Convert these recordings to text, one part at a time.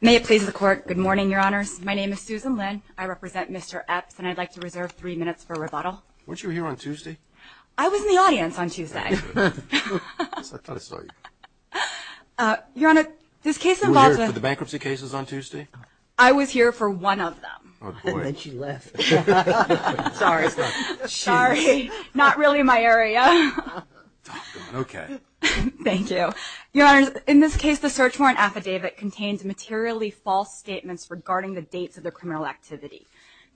May it please the court. Good morning, your honors. My name is Susan Lin. I represent Mr. Epps, and I'd like to reserve three minutes for rebuttal. Weren't you here on Tuesday? I was in the audience on Tuesday. I thought I saw you. Your honor, this case involves... Were you here for the bankruptcy cases on Tuesday? I was here for one of them. Oh, boy. And then she left. Sorry. Not really my area. Okay. Thank you. Your honors, in this case, the search warrant affidavit contains materially false statements regarding the dates of the criminal activity.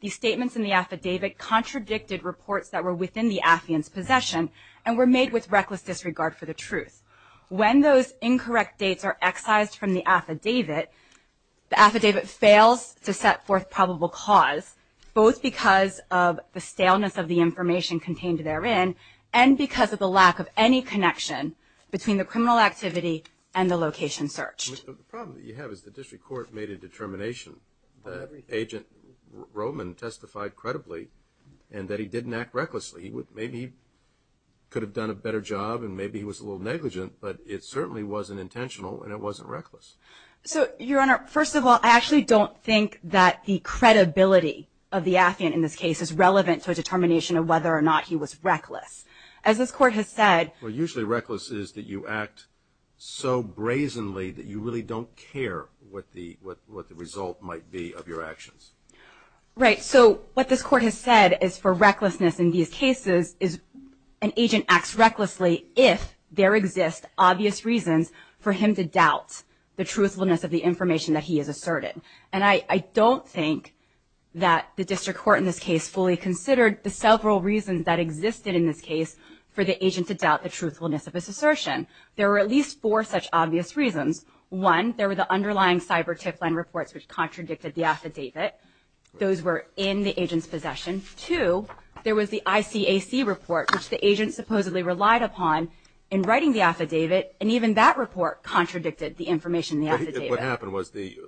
These statements in the affidavit contradicted reports that were within the affiant's possession and were made with reckless disregard for the truth. When those incorrect dates are excised from the affidavit, the affidavit fails to set forth probable cause, both because of the staleness of the information contained therein and because of the lack of any connection between the criminal activity and the location searched. The problem that you have is the district court made a determination that Agent Roman testified credibly and that he didn't act recklessly. Maybe he could have done a better job and maybe he was a little negligent, but it certainly wasn't intentional and it wasn't reckless. So, your honor, first of all, I actually don't think that the credibility of the affiant in this case is relevant to a determination of whether or not he was reckless. As this court has said... Well, usually reckless is that you act so brazenly that you really don't care what the result might be of your actions. Right. So what this court has said is for recklessness in these cases is an agent acts recklessly if there exist obvious reasons for him to doubt the truthfulness of the information that he has asserted. And I don't think that the district court in this case fully considered the several reasons that existed in this case for the agent to doubt the truthfulness of his assertion. There were at least four such obvious reasons. One, there were the underlying cyber tip line reports which contradicted the affidavit. Those were in the agent's possession. Two, there was the ICAC report which the agent supposedly relied upon in writing the affidavit and even that report contradicted the information in the affidavit. What happened was the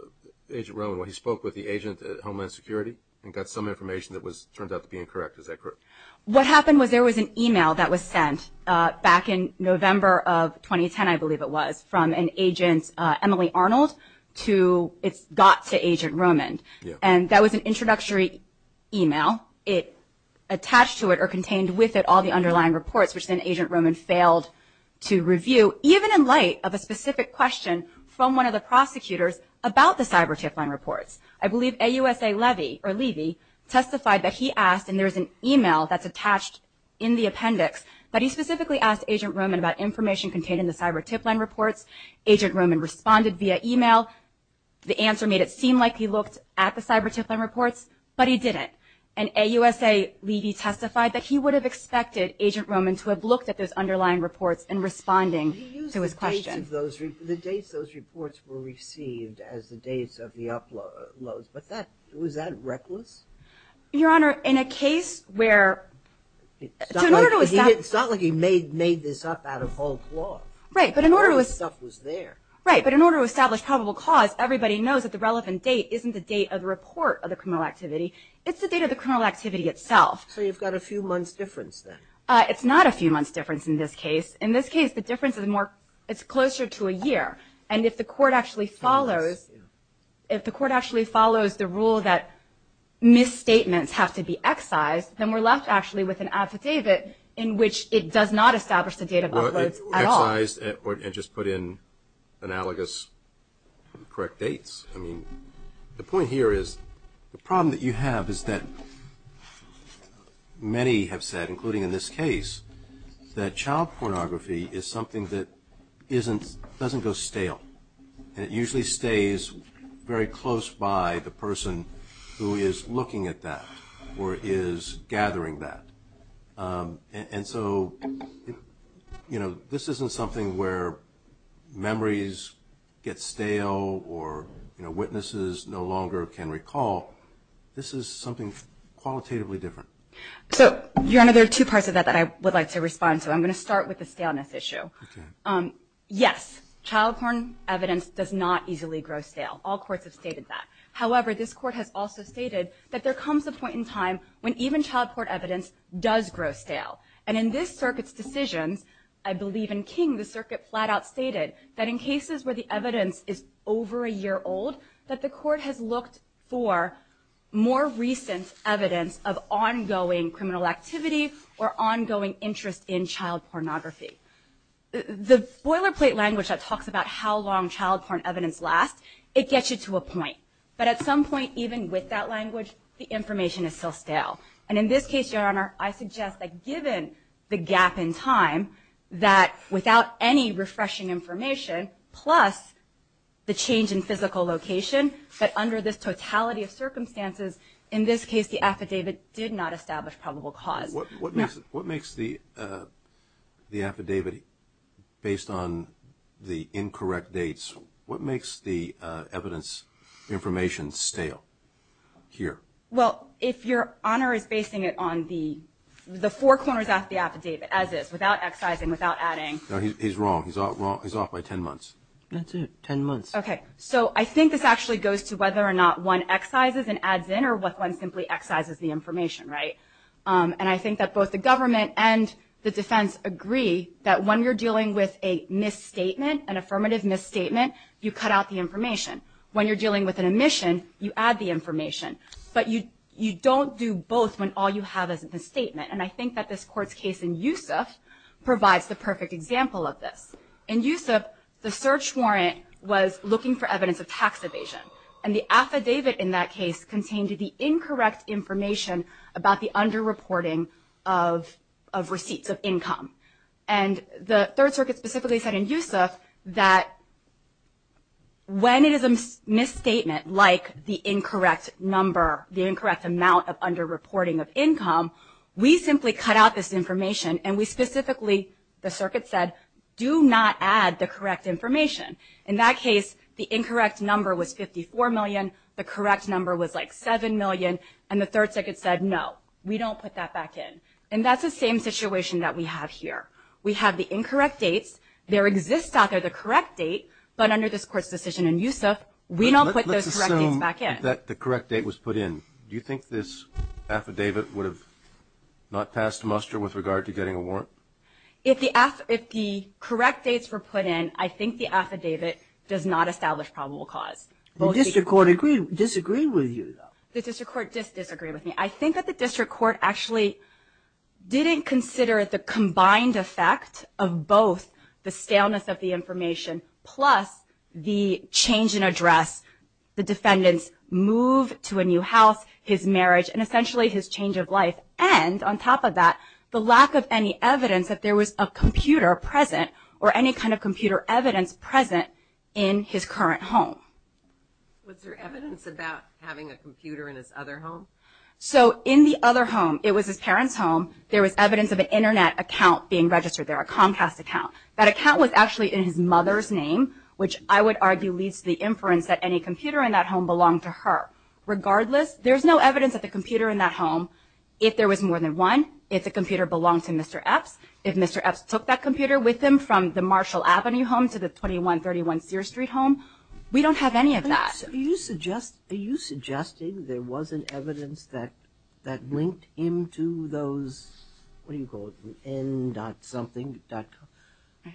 agent spoke with the agent at Homeland Security and got some information that turned out to be incorrect. Is that correct? What happened was there was an email that was sent back in November of 2010, I believe it was, from an agent, Emily Arnold, to, it got to Agent Roman. And that was an introductory email. It attached to it or contained with it all the underlying reports which then Agent Roman failed to review even in light of a specific question from one of the prosecutors about the cyber tip line reports. I believe AUSA Levy testified that he asked, and there's an email that's attached in the appendix, but he specifically asked Agent Roman about information contained in the cyber tip line reports. Agent Roman responded via email. The answer made it seem like he looked at the cyber tip line reports, but he didn't. And AUSA Levy testified that he would have expected Agent Roman to have looked at those underlying reports in responding to his question. He used the dates those reports were received as the dates of the uploads, but that, was that reckless? Your Honor, in a case where... It's not like he made this up out of whole cloth. Right, but in order to establish probable cause, everybody knows that the relevant date isn't the date of the report of the criminal activity, it's the date of the criminal activity itself. So you've got a few months difference then. It's not a few months difference in this case. In this case, the difference is more, it's closer to a year. And if the court actually follows, if the court actually follows the rule that misstatements have to be excised, then we're left actually with an affidavit in which it does not establish the date of uploads at all. Excised and just put in analogous correct dates. I mean, the point here is, the problem that you have is that many have said, including in this case, that child pornography is something that doesn't go stale. And it usually stays very close by the person who is looking at that or is gathering that. And so, you know, this isn't something where memories get stale or witnesses no longer can recall. This is something qualitatively different. So, Your Honor, there are two parts of that that I would like to respond to. I'm going to start with the staleness issue. Okay. Yes, child porn evidence does not easily grow stale. All courts have stated that. However, this court has also stated that there comes a point in time when even child porn evidence does grow stale. And in this circuit's decisions, I believe in King, the circuit flat out stated that in cases where the evidence is over a year old, that the court has looked for more recent evidence of ongoing criminal activity or ongoing interest in child pornography. The boilerplate language that talks about how long child porn evidence lasts, it gets you to a point. But at some point, even with that language, the information is still stale. And in this case, Your Honor, I suggest that given the gap in time, that without any refreshing information, plus the change in physical location, that under this totality of circumstances, in this case, the affidavit did not establish probable cause. What makes the affidavit, based on the incorrect dates, what makes the evidence information stale here? Well, if Your Honor is basing it on the four corners of the affidavit, as is, without excising, without adding. No, he's wrong. He's off by 10 months. That's it, 10 months. Okay. So I think this actually goes to whether or not one excises and adds in, or one simply excises the information, right? And I think that both the government and the defense agree that when you're dealing with a misstatement, an affirmative misstatement, you cut out the information. When you're dealing with an omission, you add the information. But you don't do both when all you have is a misstatement. And I think that this Court's case in Youssef provides the perfect example of this. In Youssef, the search warrant was looking for evidence of tax evasion, and the affidavit in that case contained the incorrect information about the underreporting of receipts of income. And the Third Circuit specifically said in Youssef that when it is a misstatement like the incorrect number, the incorrect amount of underreporting of income, we simply cut out this information, and we specifically, the Circuit said, do not add the correct information. In that case, the incorrect number was $54 million, the correct number was like $7 million, and the Third Circuit said no, we don't put that back in. And that's the same situation that we have here. We have the incorrect dates. There exists out there the correct date, but under this Court's decision in Youssef, we don't put those correct dates back in. If the correct date was put in, do you think this affidavit would have not passed muster with regard to getting a warrant? If the correct dates were put in, I think the affidavit does not establish probable cause. The district court disagreed with you, though. The district court disagreed with me. I think that the district court actually didn't consider the combined effect of both the scaleness of the information plus the change in address, the defendant's move to a new house, his marriage, and essentially his change of life, and on top of that, the lack of any evidence that there was a computer present or any kind of computer evidence present in his current home. Was there evidence about having a computer in his other home? So in the other home, it was his parents' home, there was evidence of an Internet account being registered there, a Comcast account. That account was actually in his mother's name, which I would argue leads to the inference that any computer in that home belonged to her. Regardless, there's no evidence that the computer in that home, if there was more than one, if the computer belonged to Mr. Epps, if Mr. Epps took that computer with him from the Marshall Avenue home to the 2131 Sear Street home, we don't have any of that. Are you suggesting there was an evidence that linked him to those, what do you call it, n-dot-something-dot-com?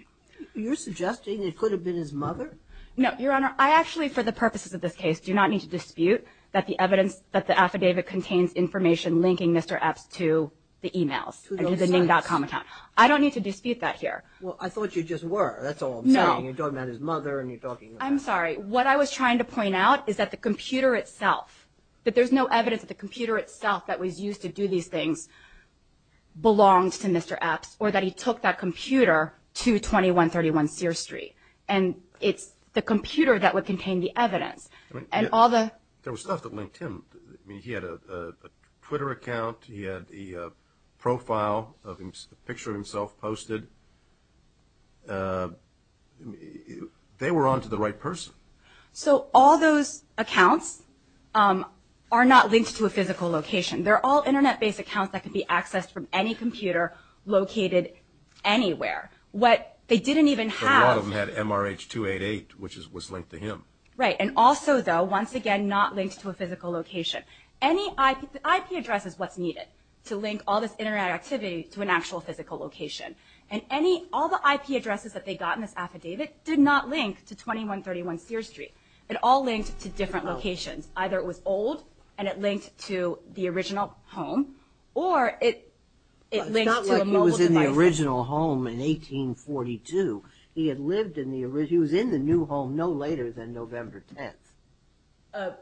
You're suggesting it could have been his mother? No, Your Honor. I actually, for the purposes of this case, do not need to dispute that the evidence, that the affidavit contains information linking Mr. Epps to the e-mails and to the n-dot-com account. I don't need to dispute that here. Well, I thought you just were. That's all I'm saying. No. You're talking about his mother and you're talking about that. I'm sorry. What I was trying to point out is that the computer itself, that there's no evidence that the computer itself that was used to do these things belonged to Mr. Epps or that he took that computer to 2131 Sear Street. And it's the computer that would contain the evidence. There was stuff that linked him. He had a Twitter account. He had a profile, a picture of himself posted. They were on to the right person. So all those accounts are not linked to a physical location. They're all Internet-based accounts that can be accessed from any computer located anywhere. What they didn't even have. A lot of them had MRH288, which was linked to him. Right. And also, though, once again not linked to a physical location. Any IP address is what's needed to link all this Internet activity to an actual physical location. And all the IP addresses that they got in this affidavit did not link to 2131 Sear Street. It all linked to different locations. Either it was old and it linked to the original home, or it linked to a mobile device. It's not like he was in the original home in 1842. He was in the new home no later than November 10th.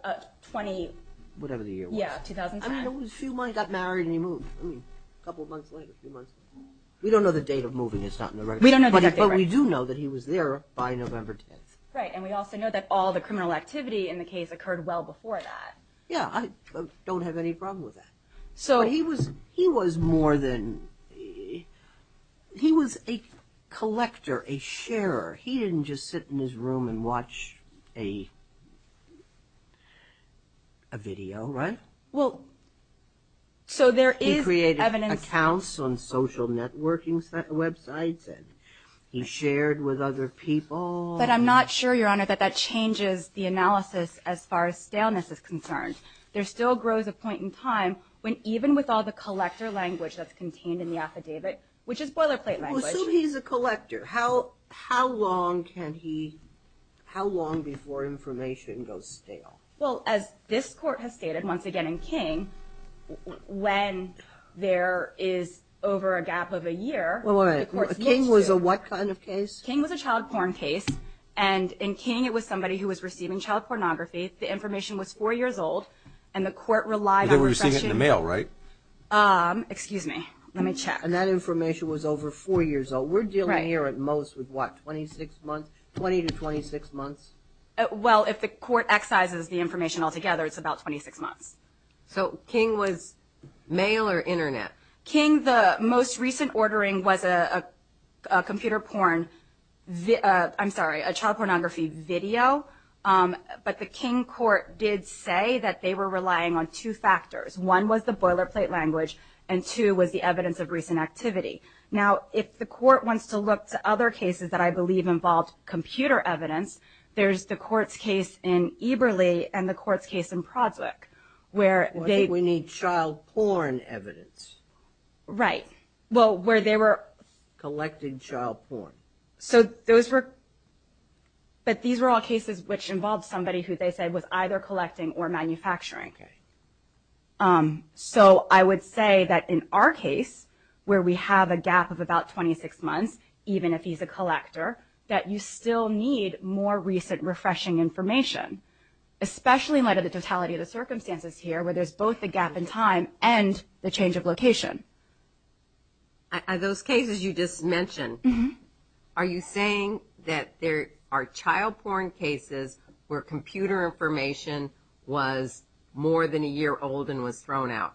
20... Whatever the year was. Yeah, 2010. He got married and he moved. A couple of months later, a few months later. We don't know the date of moving. It's not in the record. We don't know the date. But we do know that he was there by November 10th. Right. And we also know that all the criminal activity in the case occurred well before that. Yeah. I don't have any problem with that. He was more than... He was a collector, a sharer. He didn't just sit in his room and watch a video, right? Well, so there is evidence... He created accounts on social networking websites and he shared with other people. But I'm not sure, Your Honor, that that changes the analysis as far as staleness is concerned. There still grows a point in time when even with all the collector language that's contained in the affidavit, which is boilerplate language... Well, so he's a collector. How long can he... How long before information goes stale? Well, as this court has stated once again in King, when there is over a gap of a year... Well, wait a minute. King was a what kind of case? King was a child porn case. And in King, it was somebody who was receiving child pornography. The information was four years old and the court relied on... They were receiving it in the mail, right? Excuse me. Let me check. And that information was over four years old. We're dealing here at most with, what, 26 months, 20 to 26 months? Well, if the court excises the information altogether, it's about 26 months. So King was mail or Internet? King, the most recent ordering was a computer porn, I'm sorry, a child pornography video. But the King court did say that they were relying on two factors. One was the boilerplate language, and two was the evidence of recent activity. Now, if the court wants to look to other cases that I believe involved computer evidence, there's the court's case in Eberle and the court's case in Prodswick, where they... I think we need child porn evidence. Right. Well, where they were... Collecting child porn. So those were... But these were all cases which involved somebody who they said was either collecting or manufacturing. Okay. So I would say that in our case, where we have a gap of about 26 months, even if he's a collector, that you still need more recent refreshing information, especially in light of the totality of the circumstances here, where there's both the gap in time and the change of location. Those cases you just mentioned, are you saying that there are child porn cases where computer information was more than a year old and was thrown out?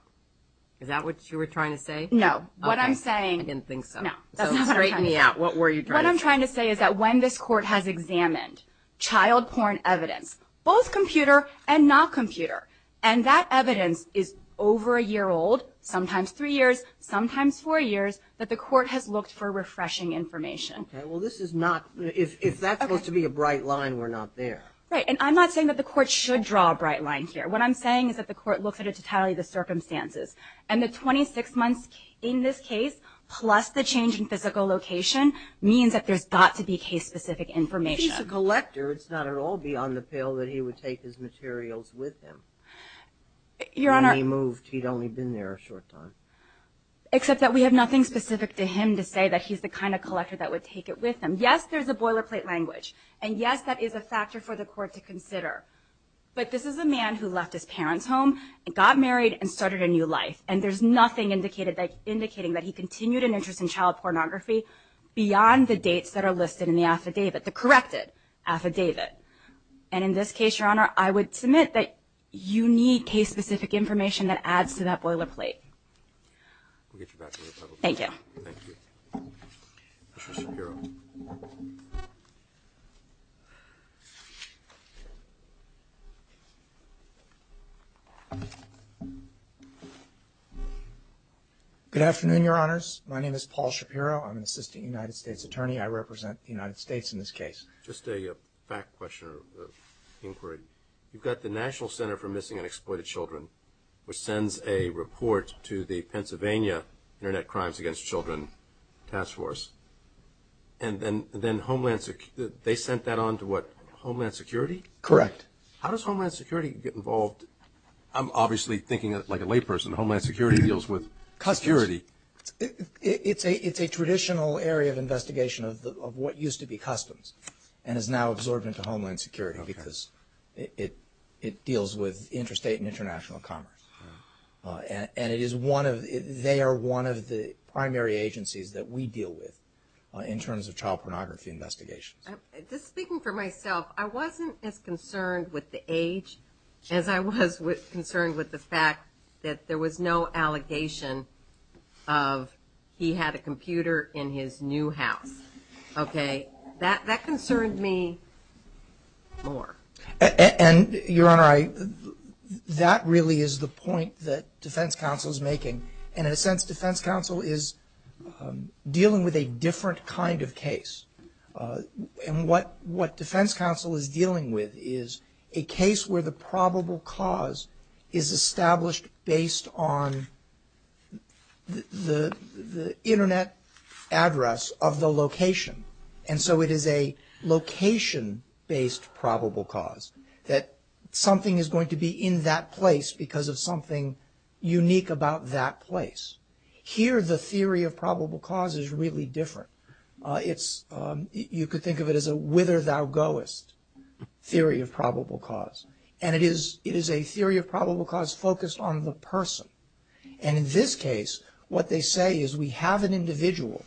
Is that what you were trying to say? No. What I'm saying... I didn't think so. No. So straighten me out. What were you trying to say? What I'm trying to say is that when this court has examined child porn evidence, both computer and not computer, and that evidence is over a year old, sometimes three years, sometimes four years, that the court has looked for refreshing information. Okay. Well, this is not... If that's supposed to be a bright line, we're not there. Right. And I'm not saying that the court should draw a bright line here. What I'm saying is that the court looks at it to tally the circumstances. And the 26 months in this case, plus the change in physical location, means that there's got to be case-specific information. If he's a collector, it's not at all beyond the pale that he would take his materials with him. When he moved, he'd only been there a short time. Except that we have nothing specific to him to say that he's the kind of collector that would take it with him. Yes, there's a boilerplate language. And, yes, that is a factor for the court to consider. But this is a man who left his parents' home and got married and started a new life. And there's nothing indicating that he continued an interest in child pornography beyond the dates that are listed in the affidavit, the corrected affidavit. And in this case, Your Honor, I would submit that you need case-specific information that adds to that boilerplate. We'll get you back to the public. Thank you. Thank you. Mr. Shapiro. Good afternoon, Your Honors. My name is Paul Shapiro. I'm an assistant United States attorney. I represent the United States in this case. Just a fact question or inquiry. You've got the National Center for Missing and Exploited Children, which sends a report to the Pennsylvania Internet Crimes Against Children Task Force. And then Homeland Security, they sent that on to what, Homeland Security? Correct. How does Homeland Security get involved? I'm obviously thinking like a layperson. Homeland Security deals with customs. It's a traditional area of investigation of what used to be customs. And is now absorbed into Homeland Security because it deals with interstate and international commerce. And it is one of, they are one of the primary agencies that we deal with in terms of child pornography investigations. Just speaking for myself, I wasn't as concerned with the age as I was concerned with the fact that there was no allegation of he had a computer in his new house. Okay. That concerned me more. And, Your Honor, that really is the point that defense counsel is making. And in a sense, defense counsel is dealing with a different kind of case. And what defense counsel is dealing with is a case where the probable cause is established based on the And so it is a location-based probable cause, that something is going to be in that place because of something unique about that place. Here, the theory of probable cause is really different. It's, you could think of it as a whither-thou-goest theory of probable cause. And it is a theory of probable cause focused on the person. And in this case, what they say is we have an individual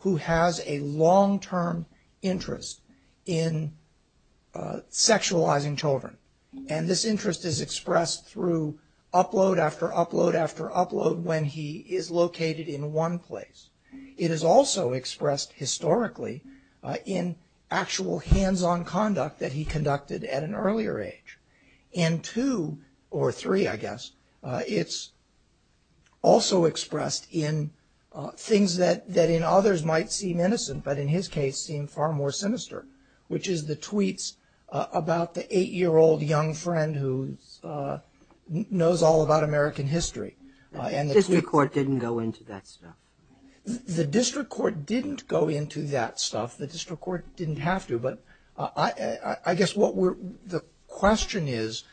who has a long-term interest in sexualizing children. And this interest is expressed through upload after upload after upload when he is located in one place. It is also expressed historically in actual hands-on conduct that he conducted at an earlier age. In two, or three, I guess, it's also expressed in things that in others might seem innocent, but in his case seemed far more sinister, which is the tweets about the eight-year-old young friend who knows all about American history. The district court didn't go into that stuff. The district court didn't go into that stuff. The district court didn't have to. But I guess the question is,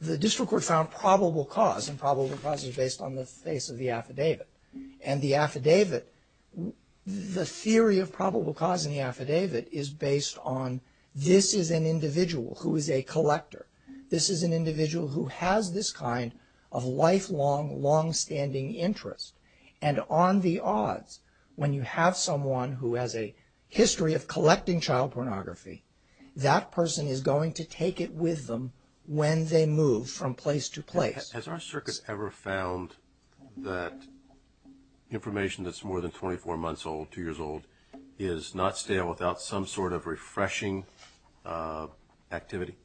the district court found probable cause, and probable cause is based on the face of the affidavit. And the affidavit, the theory of probable cause in the affidavit, is based on this is an individual who is a collector. This is an individual who has this kind of lifelong, long-standing interest. And on the odds, when you have someone who has a history of collecting child pornography, that person is going to take it with them when they move from place to place. Has our circuit ever found that information that's more than 24 months old, two years old, is not stale without some sort of refreshing activity?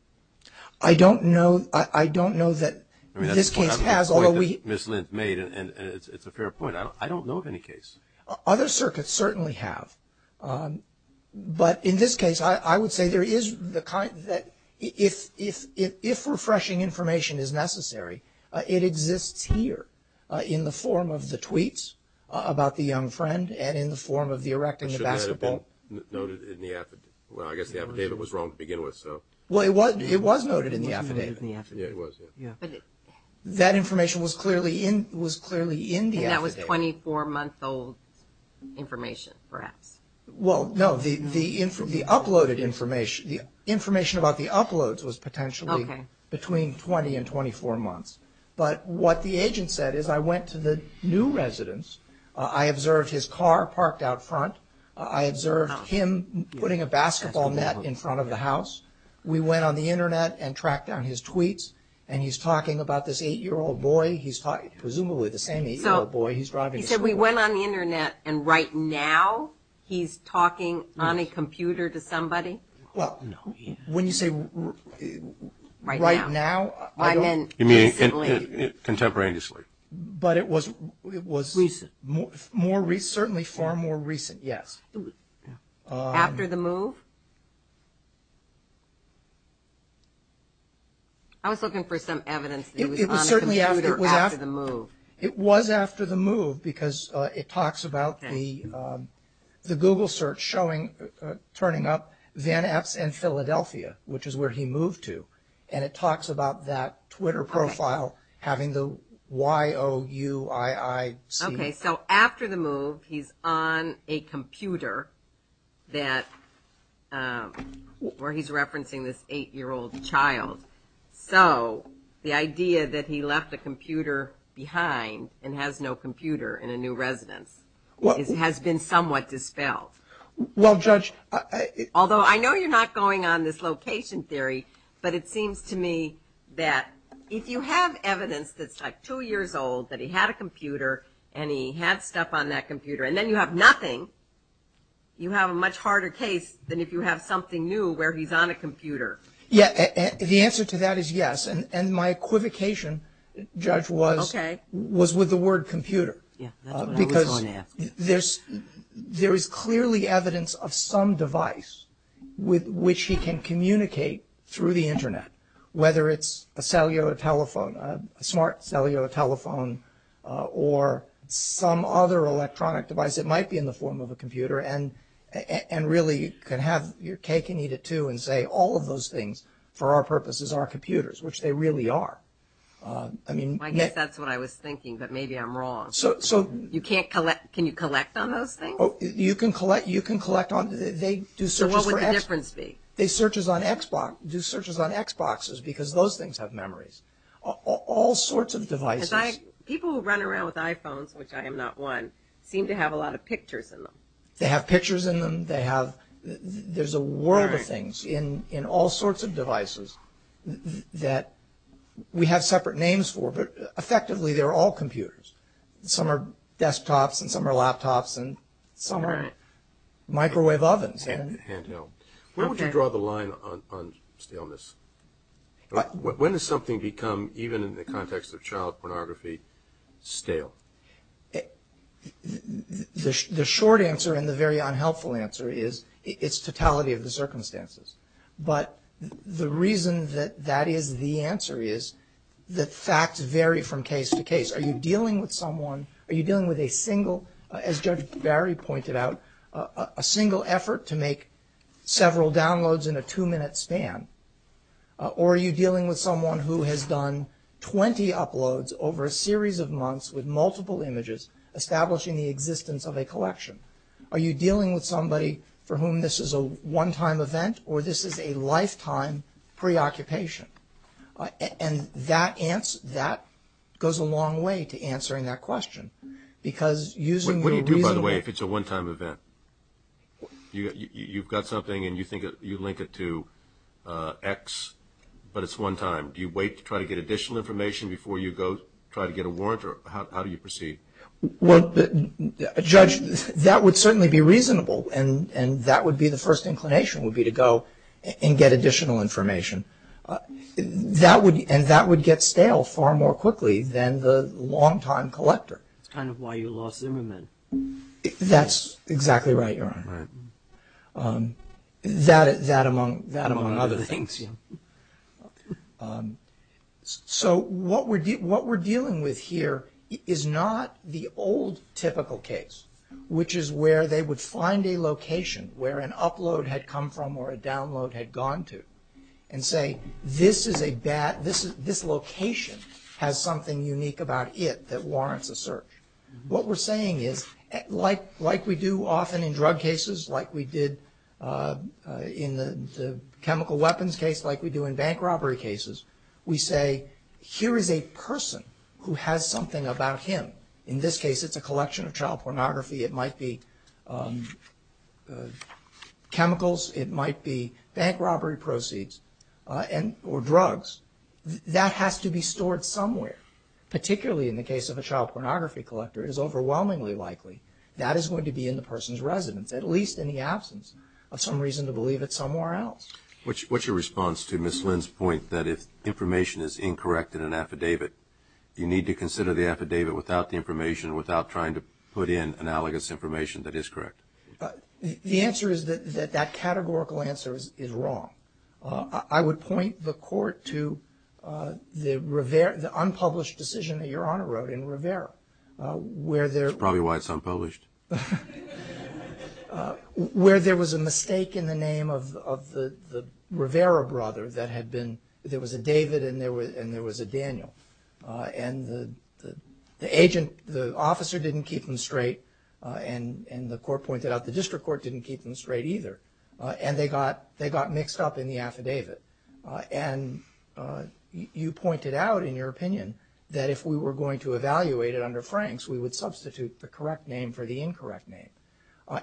I don't know. I don't know that this case has. That's a point that Ms. Lindt made, and it's a fair point. I don't know of any case. Other circuits certainly have. But in this case, I would say there is the kind that if refreshing information is necessary, it exists here in the form of the tweets about the young friend and in the form of the erecting the basketball. But shouldn't that have been noted in the affidavit? Well, I guess the affidavit was wrong to begin with, so. Well, it was noted in the affidavit. It was noted in the affidavit. Yeah, it was, yeah. That information was clearly in the affidavit. And that was 24-month-old information, perhaps. Well, no. The information about the uploads was potentially between 20 and 24 months. But what the agent said is, I went to the new residence. I observed his car parked out front. I observed him putting a basketball net in front of the house. We went on the Internet and tracked down his tweets, and he's talking about this 8-year-old boy. He's presumably the same 8-year-old boy. He's driving to school. He said we went on the Internet, and right now he's talking on a computer to somebody? Well, when you say right now, I don't – You mean contemporaneously. But it was – Recent. Certainly far more recent, yes. After the move? I was looking for some evidence that he was on a computer after the move. It was after the move because it talks about the Google search showing, turning up Van Eps in Philadelphia, which is where he moved to. And it talks about that Twitter profile having the Y-O-U-I-I-C. Okay, so after the move, he's on a computer that – where he's referencing this 8-year-old child. So the idea that he left a computer behind and has no computer in a new residence has been somewhat dispelled. Well, Judge – Although I know you're not going on this location theory, but it seems to me that if you have evidence that's, like, two years old, that he had a computer and he had stuff on that computer, and then you have nothing, you have a much harder case than if you have something new where he's on a computer. Yeah, the answer to that is yes. And my equivocation, Judge, was with the word computer. Yeah, that's what I was going to ask. Because there is clearly evidence of some device with which he can communicate through the Internet, whether it's a cellular telephone, a smart cellular telephone, or some other electronic device that might be in the form of a computer, and really can have your cake and eat it too and say all of those things for our purposes are computers, which they really are. I mean – I guess that's what I was thinking, but maybe I'm wrong. So – You can't collect – can you collect on those things? You can collect on – they do searches for – So what would the difference be? They do searches on Xboxes because those things have memories. All sorts of devices. People who run around with iPhones, which I am not one, seem to have a lot of pictures in them. They have pictures in them. They have – there's a world of things in all sorts of devices that we have separate names for, but effectively they're all computers. Some are desktops and some are laptops and some are microwave ovens. When would you draw the line on staleness? When does something become, even in the context of child pornography, stale? The short answer and the very unhelpful answer is its totality of the circumstances. But the reason that that is the answer is that facts vary from case to case. Are you dealing with someone – are you dealing with a single – several downloads in a two-minute span, or are you dealing with someone who has done 20 uploads over a series of months with multiple images establishing the existence of a collection? Are you dealing with somebody for whom this is a one-time event or this is a lifetime preoccupation? And that goes a long way to answering that question because using the reasonable – you've got something and you think you link it to X, but it's one time. Do you wait to try to get additional information before you go try to get a warrant, or how do you proceed? Well, Judge, that would certainly be reasonable and that would be the first inclination would be to go and get additional information. That would – and that would get stale far more quickly than the long-time collector. That's kind of why you lost Zimmerman. That's exactly right, Your Honor. That among other things, yeah. So what we're dealing with here is not the old typical case, which is where they would find a location where an upload had come from or a download had gone to and say, this is a bad – this location has something unique about it that warrants a search. What we're saying is, like we do often in drug cases, like we did in the chemical weapons case, like we do in bank robbery cases, we say, here is a person who has something about him. In this case, it's a collection of child pornography. It might be chemicals. It might be bank robbery proceeds or drugs. That has to be stored somewhere. Particularly in the case of a child pornography collector, it is overwhelmingly likely that is going to be in the person's residence, at least in the absence of some reason to believe it's somewhere else. What's your response to Ms. Lynn's point that if information is incorrect in an affidavit, you need to consider the affidavit without the information, without trying to put in analogous information that is correct? The answer is that that categorical answer is wrong. I would point the court to the unpublished decision that Your Honor wrote in Rivera. That's probably why it's unpublished. Where there was a mistake in the name of the Rivera brother that had been – there was a David and there was a Daniel. And the agent – the officer didn't keep them straight, and the court pointed out the district court didn't keep them straight either. And they got mixed up in the affidavit. And you pointed out in your opinion that if we were going to evaluate it under Franks, we would substitute the correct name for the incorrect name.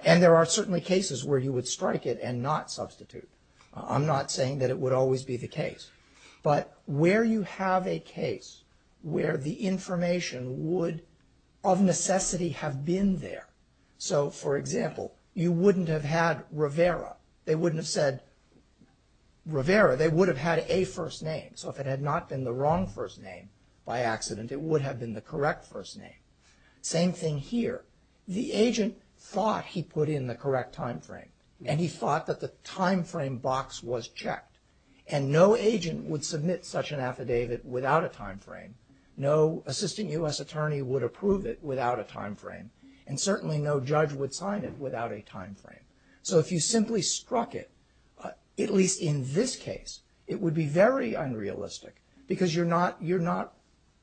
And there are certainly cases where you would strike it and not substitute. I'm not saying that it would always be the case. But where you have a case where the information would of necessity have been there – So, for example, you wouldn't have had Rivera. They wouldn't have said Rivera. They would have had a first name. So if it had not been the wrong first name by accident, it would have been the correct first name. Same thing here. The agent thought he put in the correct time frame. And he thought that the time frame box was checked. And no agent would submit such an affidavit without a time frame. No assistant U.S. attorney would approve it without a time frame. And certainly no judge would sign it without a time frame. So if you simply struck it, at least in this case, it would be very unrealistic because you're not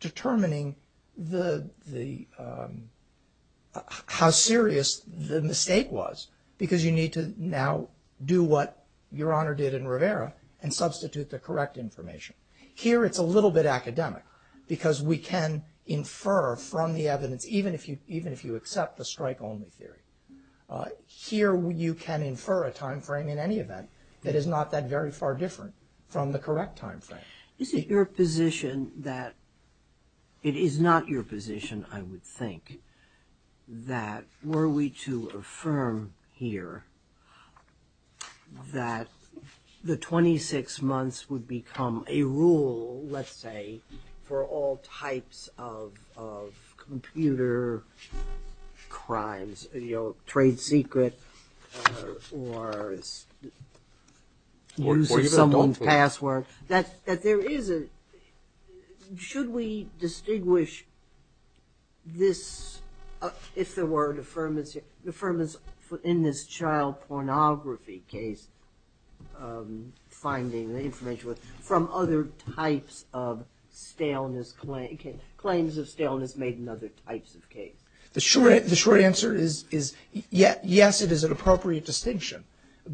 determining how serious the mistake was because you need to now do what Your Honor did in Rivera and substitute the correct information. Here it's a little bit academic because we can infer from the evidence, even if you accept the strike only theory. Here you can infer a time frame in any event that is not that very far different from the correct time frame. Is it your position that – it is not your position, I would think, that were we to affirm here that the 26 months would become a rule, let's say, for all types of computer crimes, you know, trade secret or use of someone's password, that there is a – should we distinguish this – if there were affirmance here – affirmance in this child pornography case finding the information from other types of staleness – claims of staleness made in other types of case? The short answer is yes, it is an appropriate distinction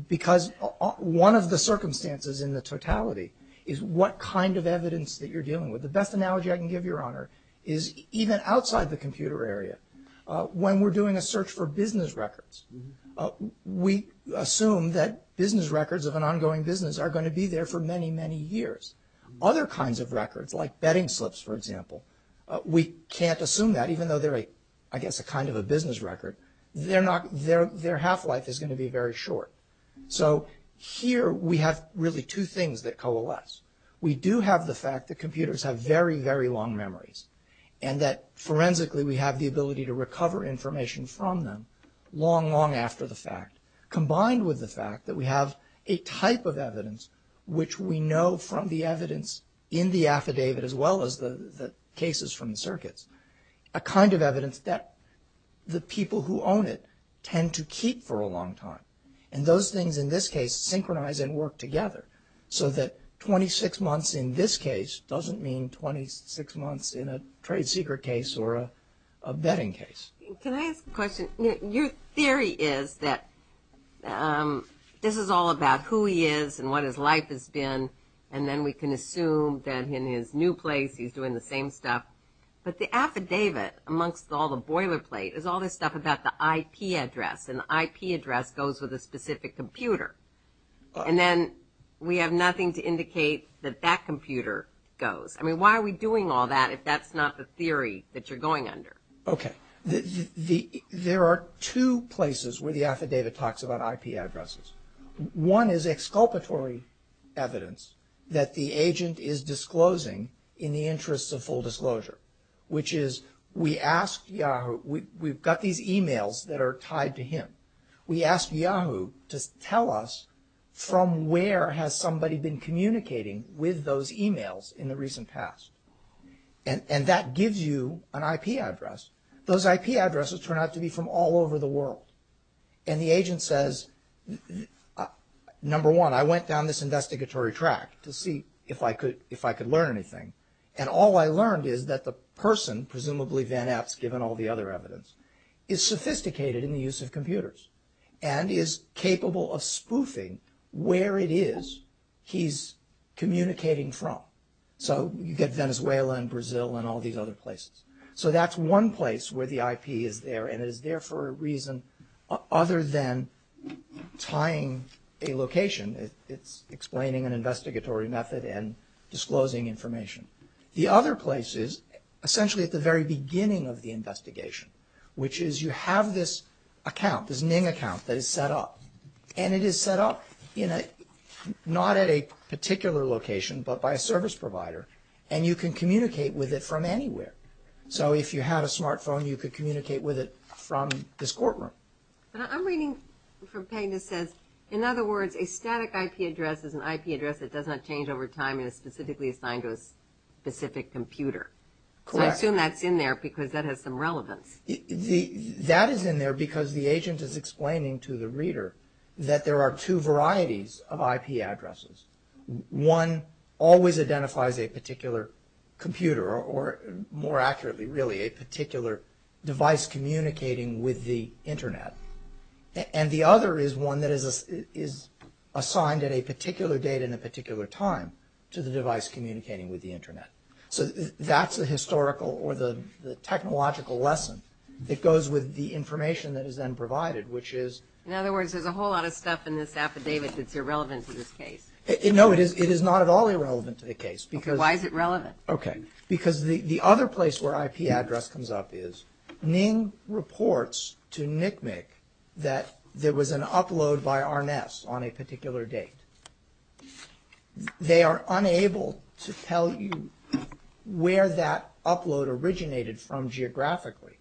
because one of the circumstances in the totality is what kind of evidence that you're dealing with. The best analogy I can give, Your Honor, is even outside the computer area. When we're doing a search for business records, we assume that business records of an ongoing business are going to be there for many, many years. Other kinds of records, like betting slips, for example, we can't assume that, even though they're, I guess, a kind of a business record. Their half-life is going to be very short. So here we have really two things that coalesce. We do have the fact that computers have very, very long memories and that, forensically, we have the ability to recover information from them long, long after the fact, combined with the fact that we have a type of evidence which we know from the evidence in the affidavit as well as the cases from the circuits, a kind of evidence that the people who own it tend to keep for a long time. And those things, in this case, synchronize and work together so that 26 months in this case doesn't mean 26 months in a trade secret case or a betting case. Can I ask a question? Your theory is that this is all about who he is and what his life has been, and then we can assume that in his new place he's doing the same stuff. But the affidavit, amongst all the boilerplate, is all this stuff about the IP address, and the IP address goes with a specific computer. And then we have nothing to indicate that that computer goes. I mean, why are we doing all that if that's not the theory that you're going under? Okay. There are two places where the affidavit talks about IP addresses. One is exculpatory evidence that the agent is disclosing in the interest of full disclosure, which is we asked Yahoo – we've got these emails that are tied to him. We asked Yahoo to tell us from where has somebody been communicating with those emails in the recent past. And that gives you an IP address. Those IP addresses turn out to be from all over the world. And the agent says, number one, I went down this investigatory track to see if I could learn anything, and all I learned is that the person, presumably Van Epps given all the other evidence, is sophisticated in the use of computers and is capable of spoofing where it is he's communicating from. So you get Venezuela and Brazil and all these other places. So that's one place where the IP is there, and it is there for a reason other than tying a location. It's explaining an investigatory method and disclosing information. The other place is essentially at the very beginning of the investigation, which is you have this account, this NING account that is set up, and it is set up not at a particular location but by a service provider, and you can communicate with it from anywhere. So if you had a smartphone, you could communicate with it from this courtroom. But I'm reading from what Pegna says, in other words, a static IP address is an IP address that does not change over time and is specifically assigned to a specific computer. Correct. So I assume that's in there because that has some relevance. That is in there because the agent is explaining to the reader that there are two varieties of IP addresses. One always identifies a particular computer or, more accurately really, a particular device communicating with the Internet, and the other is one that is assigned at a particular date and a particular time to the device communicating with the Internet. So that's the historical or the technological lesson that goes with the information that is then provided, which is… In other words, there's a whole lot of stuff in this affidavit that's irrelevant to this case. No, it is not at all irrelevant to the case because… Why is it relevant? Okay, because the other place where IP address comes up is Ning reports to NCMEC that there was an upload by Arnes on a particular date. They are unable to tell you where that upload originated from geographically,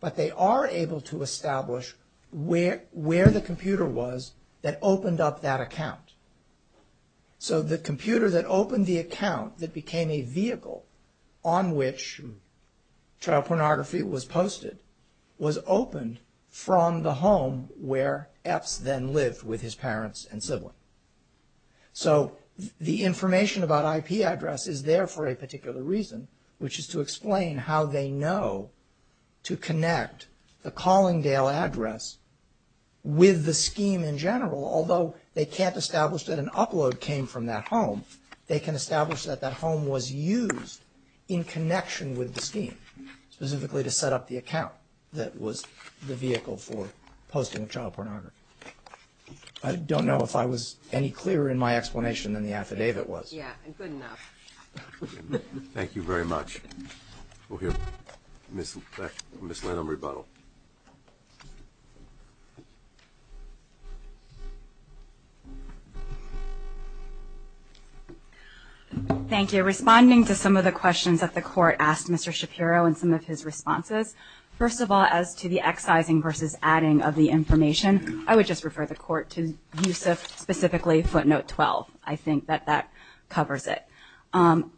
but they are able to establish where the computer was that opened up that account. So the computer that opened the account that became a vehicle on which child pornography was posted was opened from the home where Epps then lived with his parents and sibling. So the information about IP address is there for a particular reason, which is to explain how they know to connect the Collingdale address with the scheme in general, although they can't establish that an upload came from that home, they can establish that that home was used in connection with the scheme, specifically to set up the account that was the vehicle for posting child pornography. I don't know if I was any clearer in my explanation than the affidavit was. Yeah, and good enough. Thank you very much. We'll hear from Ms. Lynn on rebuttal. Thank you. Responding to some of the questions that the court asked Mr. Shapiro and some of his responses, first of all, as to the excising versus adding of the information, I would just refer the court to Yusuf, specifically footnote 12. I think that that covers it.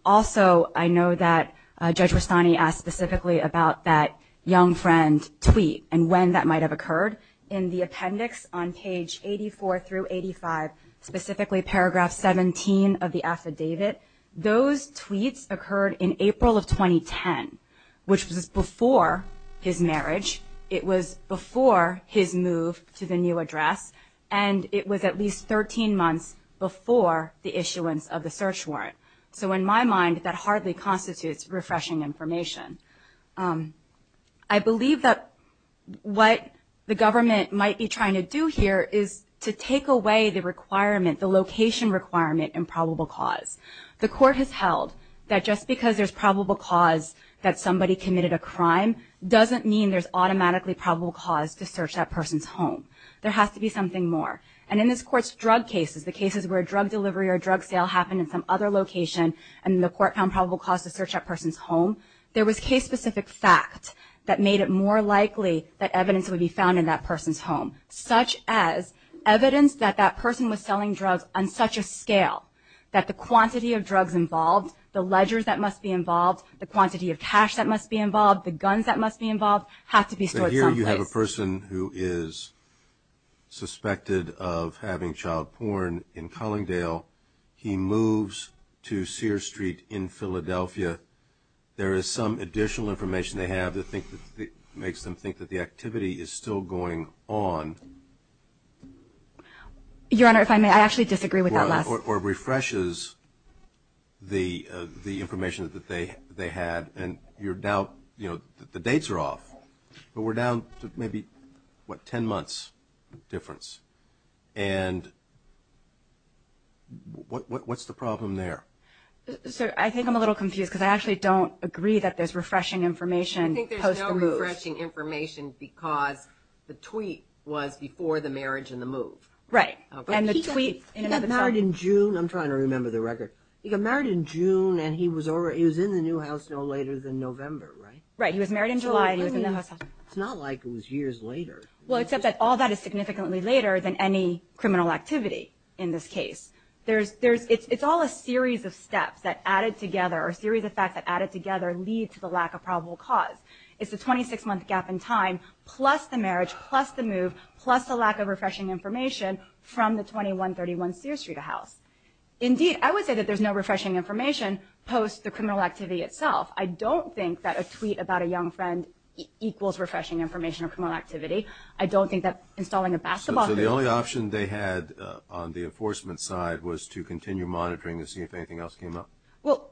Also, I know that Judge Rustani asked specifically about that young friend tweet and when that might have occurred in the appendix on page 84 through 85, specifically paragraph 17 of the affidavit. Those tweets occurred in April of 2010, which was before his marriage. It was before his move to the new address, and it was at least 13 months before the issuance of the search warrant. So in my mind, that hardly constitutes refreshing information. I believe that what the government might be trying to do here is to take away the requirement, the location requirement in probable cause. The court has held that just because there's probable cause that somebody committed a crime doesn't mean there's automatically probable cause to search that person's home. There has to be something more, and in this court's drug cases, the cases where a drug delivery or a drug sale happened in some other location and the court found probable cause to search that person's home, there was case-specific fact that made it more likely that evidence would be found in that person's home, such as evidence that that person was selling drugs on such a scale that the quantity of drugs involved, the ledgers that must be involved, the quantity of cash that must be involved, the guns that must be involved, have to be stored someplace. So here you have a person who is suspected of having child porn in Collingdale. He moves to Sears Street in Philadelphia. There is some additional information they have that makes them think that the activity is still going on. Your Honor, if I may, I actually disagree with that last point. Or refreshes the information that they had. And you're now, you know, the dates are off, but we're down to maybe, what, 10 months difference. And what's the problem there? Sir, I think I'm a little confused because I actually don't agree that there's refreshing information post the move. I think there's no refreshing information because the tweet was before the marriage and the move. Right. And the tweet in another time. He got married in June. I'm trying to remember the record. He got married in June and he was in the new house no later than November, right? Right. He was married in July and he was in the new house. It's not like it was years later. Well, except that all that is significantly later than any criminal activity in this case. It's all a series of steps that added together or a series of facts that added together lead to the lack of probable cause. It's a 26-month gap in time plus the marriage, plus the move, plus the lack of refreshing information from the 2131 Sears Street house. Indeed, I would say that there's no refreshing information post the criminal activity itself. I don't think that a tweet about a young friend equals refreshing information or criminal activity. I don't think that installing a basketball hoop. So the only option they had on the enforcement side was to continue monitoring to see if anything else came up? Well,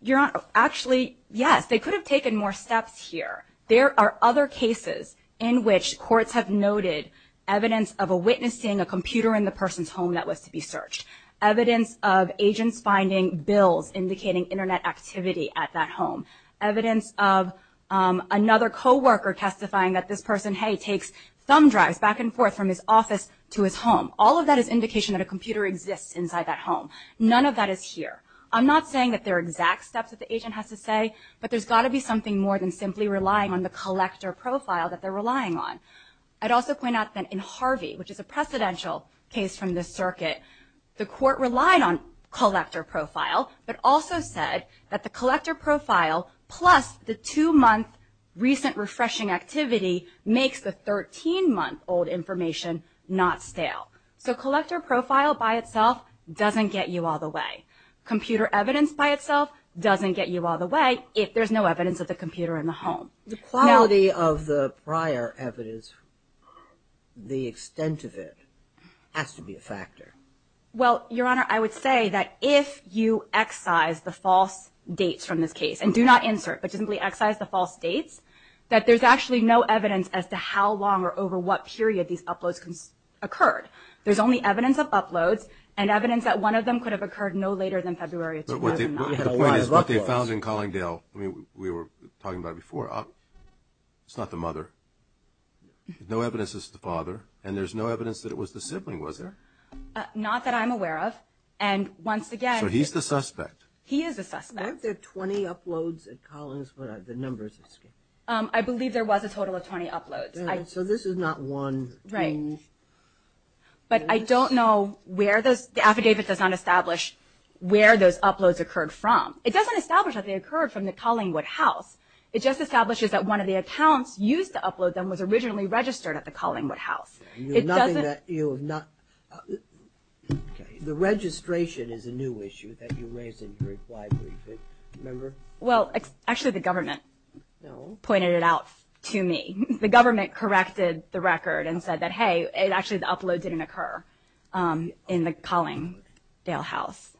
Your Honor, actually, yes. They could have taken more steps here. There are other cases in which courts have noted evidence of a witness seeing a computer in the person's home that was to be searched, evidence of agents finding bills indicating Internet activity at that home, evidence of another coworker testifying that this person, hey, takes thumb drives back and forth from his office to his home. All of that is indication that a computer exists inside that home. None of that is here. I'm not saying that they're exact steps that the agent has to say, but there's got to be something more than simply relying on the collector profile that they're relying on. I'd also point out that in Harvey, which is a precedential case from this circuit, the court relied on collector profile but also said that the collector profile plus the two-month recent refreshing activity makes the 13-month-old information not stale. So collector profile by itself doesn't get you all the way. Computer evidence by itself doesn't get you all the way if there's no evidence of the computer in the home. The quality of the prior evidence, the extent of it, has to be a factor. Well, Your Honor, I would say that if you excise the false dates from this case, and do not insert but simply excise the false dates, that there's actually no evidence as to how long or over what period these uploads occurred. There's only evidence of uploads and evidence that one of them could have occurred no later than February 2009. The point is what they found in Collingdale, we were talking about it before, it's not the mother. There's no evidence it's the father, and there's no evidence that it was the sibling, was there? Not that I'm aware of. So he's the suspect. He is the suspect. I believe there was a total of 20 uploads. So this is not one. But I don't know where those, the affidavit does not establish where those uploads occurred from. It doesn't establish that they occurred from the Collingwood house. It just establishes that one of the accounts used to upload them was originally registered at the Collingwood house. It doesn't... The registration is a new issue that you raised in your inquiry, remember? Well, actually the government pointed it out to me. The government corrected the record and said that, hey, actually the upload didn't occur in the Collingdale house.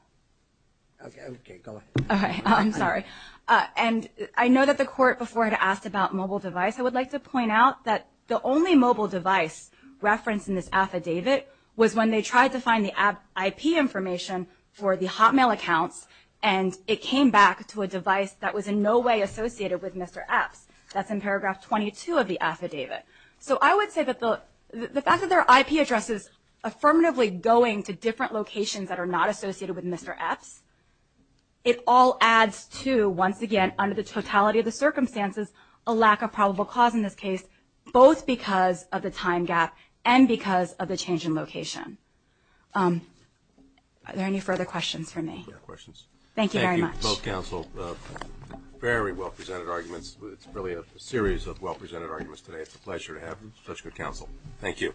Okay, go ahead. I'm sorry. And I know that the court before had asked about mobile device. I would like to point out that the only mobile device referenced in this affidavit was when they tried to find the IP information for the Hotmail accounts, and it came back to a device that was in no way associated with Mr. Epps. That's in paragraph 22 of the affidavit. So I would say that the fact that there are IP addresses affirmatively going to different locations that are not associated with Mr. Epps, it all adds to, once again, under the totality of the circumstances, a lack of probable cause in this case, both because of the time gap and because of the change in location. Are there any further questions for me? No questions. Thank you very much. Both counsel, very well-presented arguments. It's really a series of well-presented arguments today. It's a pleasure to have you. Such good counsel. Thank you.